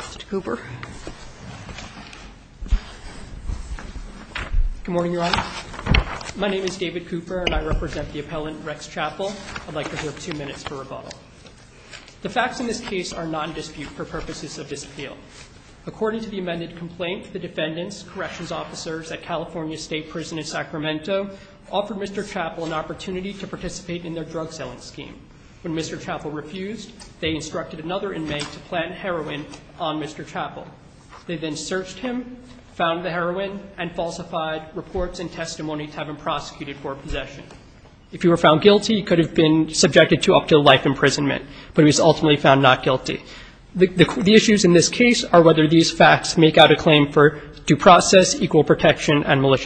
Mr. Cooper. Good morning, Your Honor. My name is David Cooper, and I represent the appellant Rex Chappell. I'd like to reserve two minutes for rebuttal. The facts in this case are non-dispute for purposes of disappeal. According to the amended complaint, the defendants, corrections officers at California State Prison in Sacramento, offered Mr. Chappell an opportunity to participate in their drug-selling scheme. When Mr. Chappell refused, they instructed another inmate to plant heroin on Mr. Chappell. They then searched him, found the heroin, and falsified reports and testimony to have him prosecuted for possession. If he were found guilty, he could have been subjected to up to life imprisonment, but he was ultimately found not guilty. The issues in this case are whether these facts make out a claim for due process, equal protection, or a lack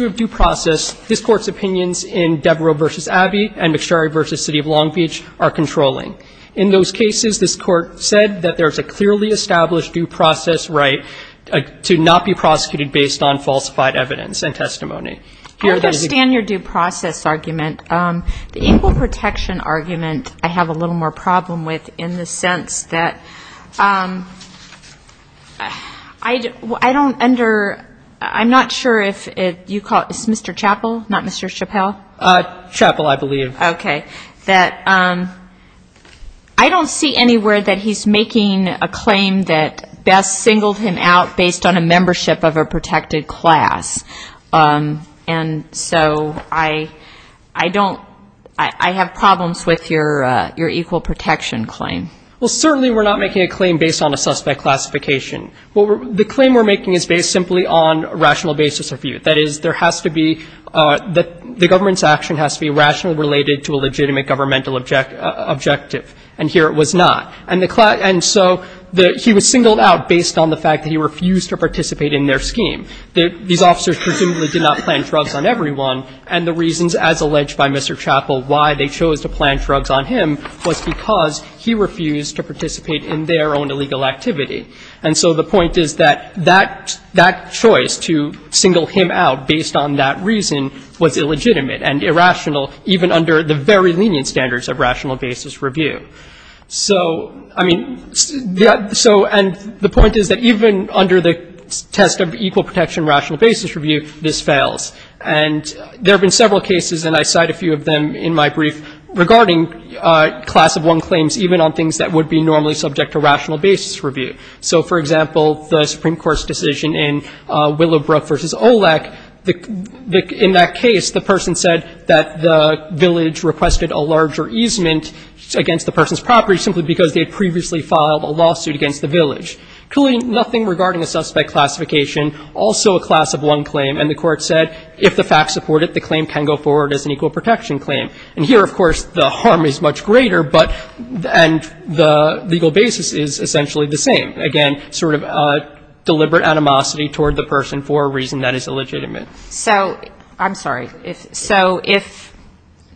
of due process. This Court's opinions in Devereux v. Abbey and McSharry v. City of Long Beach are controlling. In those cases, this Court said that there is a clearly established due process right to not be prosecuted based on falsified evidence and testimony. I understand your due process argument. The equal protection argument I have a little more problem with in the sense that I don't under, I'm not sure if you call it Mr. Chappell, not Mr. Chappell? Chappell, I believe. Okay. That I don't see anywhere that he's making a claim that best singled him out based on a membership of a protected class. And so I don't, I have problems with your equal protection claim. Well, certainly we're not making a claim based on a suspect classification. The claim we're making is based simply on a rational basis of view. That is, there has to be, the government's action has to be rationally related to a legitimate governmental objective, and here it was not. And so he was singled out based on the fact that he refused to participate in their scheme. These officers presumably did not plant drugs on everyone, and the reasons, as alleged by Mr. Chappell, why they chose to plant drugs on him was because he refused to participate in their own illegal activity. And so the point is that that choice to single him out based on that reason was illegitimate and irrational, even under the very lenient standards of rational basis review. So, I mean, so, and the point is that even under the test of equal protection rational basis review, this fails. And there have been several cases, and I cite a few of them in my brief, regarding class of one claims even on things that would be normally subject to rational basis review. So, for example, the Supreme Court's decision in Willowbrook v. Olek, in that case, the person said that the village requested a larger easement against the person's property simply because they had previously filed a lawsuit against the village. Clearly nothing regarding a suspect classification, also a class of one claim, and the court said if the facts support it, the claim can go forward as an equal protection claim. And here, of course, the harm is much greater, but, and the legal basis is essentially the same. Again, sort of deliberate animosity toward the person for a reason that is illegitimate. So, I'm sorry. So if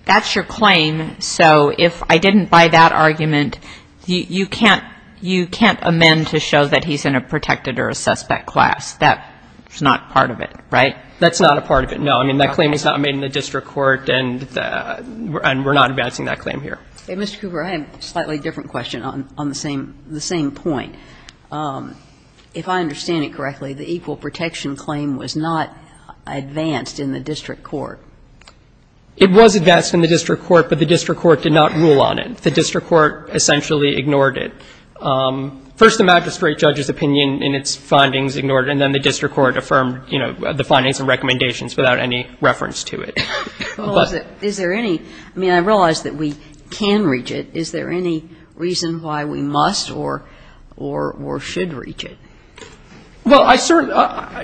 that's your claim, so if I didn't buy that argument, you can't, you can't amend to show that he's in a protected or a suspect class. That is not part of it, right? That's not a part of it, no. I mean, that claim is not made in the district court, and we're not advancing that claim here. Mr. Cooper, I have a slightly different question on the same point. If I understand it correctly, the equal protection claim was not advanced in the district court. It was advanced in the district court, but the district court did not rule on it. The district court essentially ignored it. First, the magistrate judge's opinion in its findings ignored it, and then the district court affirmed, you know, the findings and recommendations without any reference to it. But is there any, I mean, I realize that we can reach it. Is there any reason why we must or should reach it? Well, I certainly,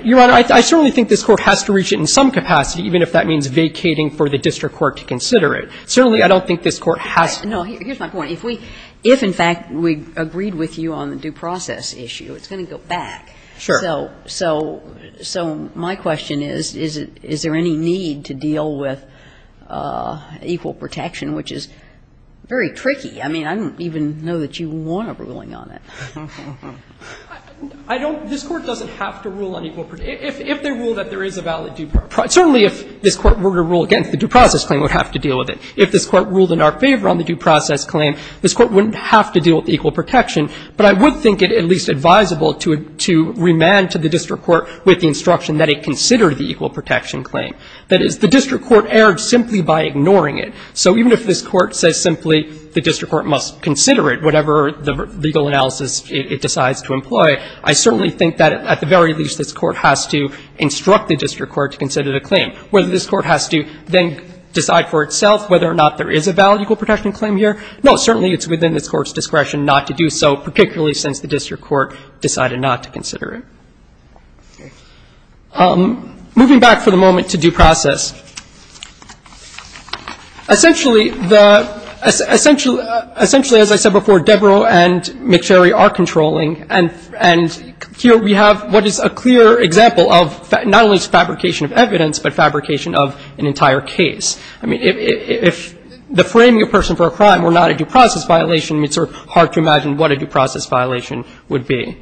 Your Honor, I certainly think this Court has to reach it in some capacity, even if that means vacating for the district court to consider it. Certainly, I don't think this Court has to. No, here's my point. If we, if in fact we agreed with you on the due process issue, it's going to go back. Sure. So my question is, is there any need to deal with equal protection, which is very tricky. I mean, I don't even know that you want a ruling on it. I don't. This Court doesn't have to rule on equal protection. If they rule that there is a valid due process, certainly if this Court were to rule against the due process claim, we would have to deal with it. If this Court ruled in our favor on the due process claim, this Court wouldn't have to deal with equal protection. But I would think it at least advisable to remand to the district court with the instruction that it consider the equal protection claim. That is, the district court erred simply by ignoring it. So even if this Court says simply the district court must consider it, whatever the legal analysis it decides to employ, I certainly think that at the very least this Court has to instruct the district court to consider the claim. Whether this Court has to then decide for itself whether or not there is a valid equal protection claim here, no, certainly it's within this Court's discretion not to do so, particularly since the district court decided not to consider it. Okay. Moving back for the moment to due process, essentially the – essentially, as I said before, Debrow and McSherry are controlling. I mean, if the framing of a person for a crime were not a due process violation, it's sort of hard to imagine what a due process violation would be.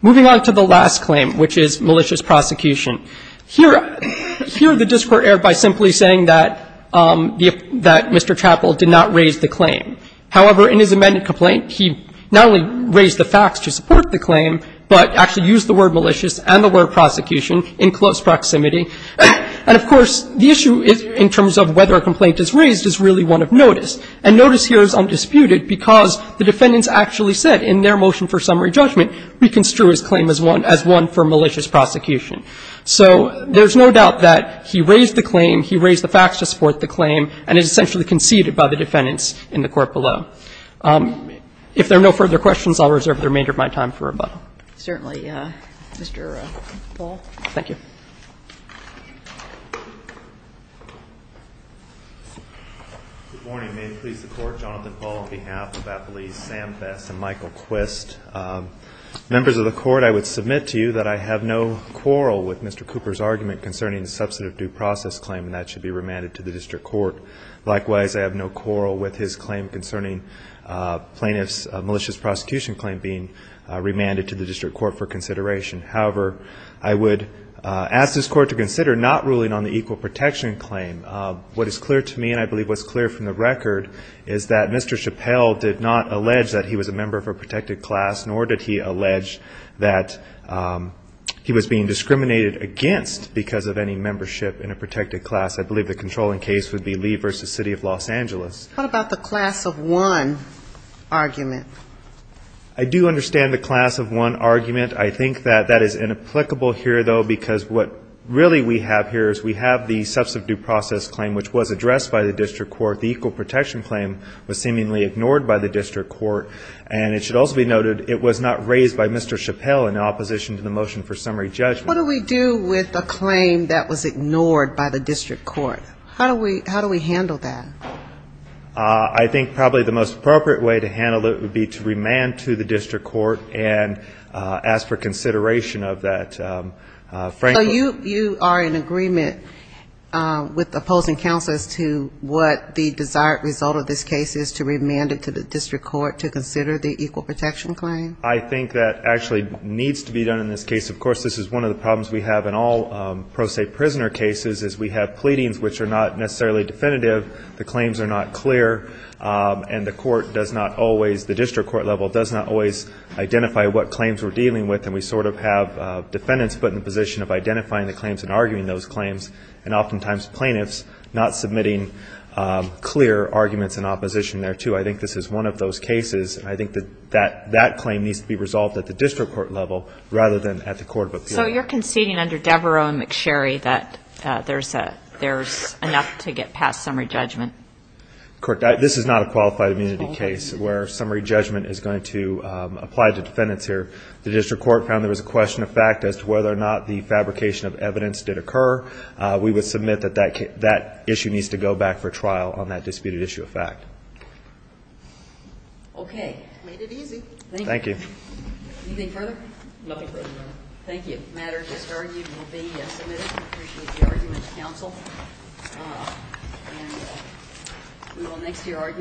Moving on to the last claim, which is malicious prosecution. Here – here the district court erred by simply saying that Mr. Chappell did not raise the claim. However, in his amended complaint, he not only raised the facts to support the claim but actually used the word malicious and the word prosecution in close proximity. And, of course, the issue is in terms of whether a complaint is raised is really one of notice, and notice here is undisputed because the defendants actually said in their motion for summary judgment we construe his claim as one – as one for malicious prosecution. So there's no doubt that he raised the claim, he raised the facts to support the claim, and it's essentially conceded by the defendants in the Court below. If there are no further questions, I'll reserve the remainder of my time for rebuttal. Certainly. Mr. Paul. Thank you. Good morning. May it please the Court. Jonathan Paul on behalf of Appellees Samfess and Michael Quist. Members of the Court, I would submit to you that I have no quarrel with Mr. Cooper's argument concerning the substantive due process claim, and that should be remanded to the district court. Likewise, I have no quarrel with his claim concerning plaintiff's malicious prosecution claim being remanded to the district court for consideration. However, I would ask this Court to consider not ruling on the equal protection claim. What is clear to me, and I believe what's clear from the record, is that Mr. Chappelle did not allege that he was a member of a protected class, nor did he allege that he was being discriminated against because of any membership in a protected class. I believe the controlling case would be Lee v. City of Los Angeles. What about the class of one argument? I do understand the class of one argument. I think that that is inapplicable here, though, because what really we have here is we have the substantive due process claim, which was addressed by the district court. The equal protection claim was seemingly ignored by the district court, and it should also be noted it was not raised by Mr. Chappelle in opposition to the motion for summary judgment. What do we do with a claim that was ignored by the district court? How do we handle that? I think probably the most appropriate way to handle it would be to remand to the district court and ask for consideration of that. So you are in agreement with the opposing counsel as to what the desired result of this case is, to remand it to the district court to consider the equal protection claim? I think that actually needs to be done in this case. Of course, this is one of the problems we have in all pro se prisoner cases, is we have pleadings which are not necessarily definitive. The claims are not clear, and the court does not always, the district court level does not always identify what claims we are dealing with, and we sort of have defendants put in the position of identifying the claims and arguing those claims, and oftentimes plaintiffs not submitting clear arguments in opposition there, too. I think this is one of those cases, and I think that that claim needs to be So you are conceding under Devereux and McSherry that there is enough to get past summary judgment? This is not a qualified immunity case where summary judgment is going to apply to defendants here. The district court found there was a question of fact as to whether or not the fabrication of evidence did occur. We would submit that that issue needs to go back for trial on that disputed issue of fact. Okay. Made it easy. Thank you. Anything further? Nothing further, Your Honor. Thank you. The matter just argued will be submitted. We appreciate the arguments, counsel. And we will next hear arguments.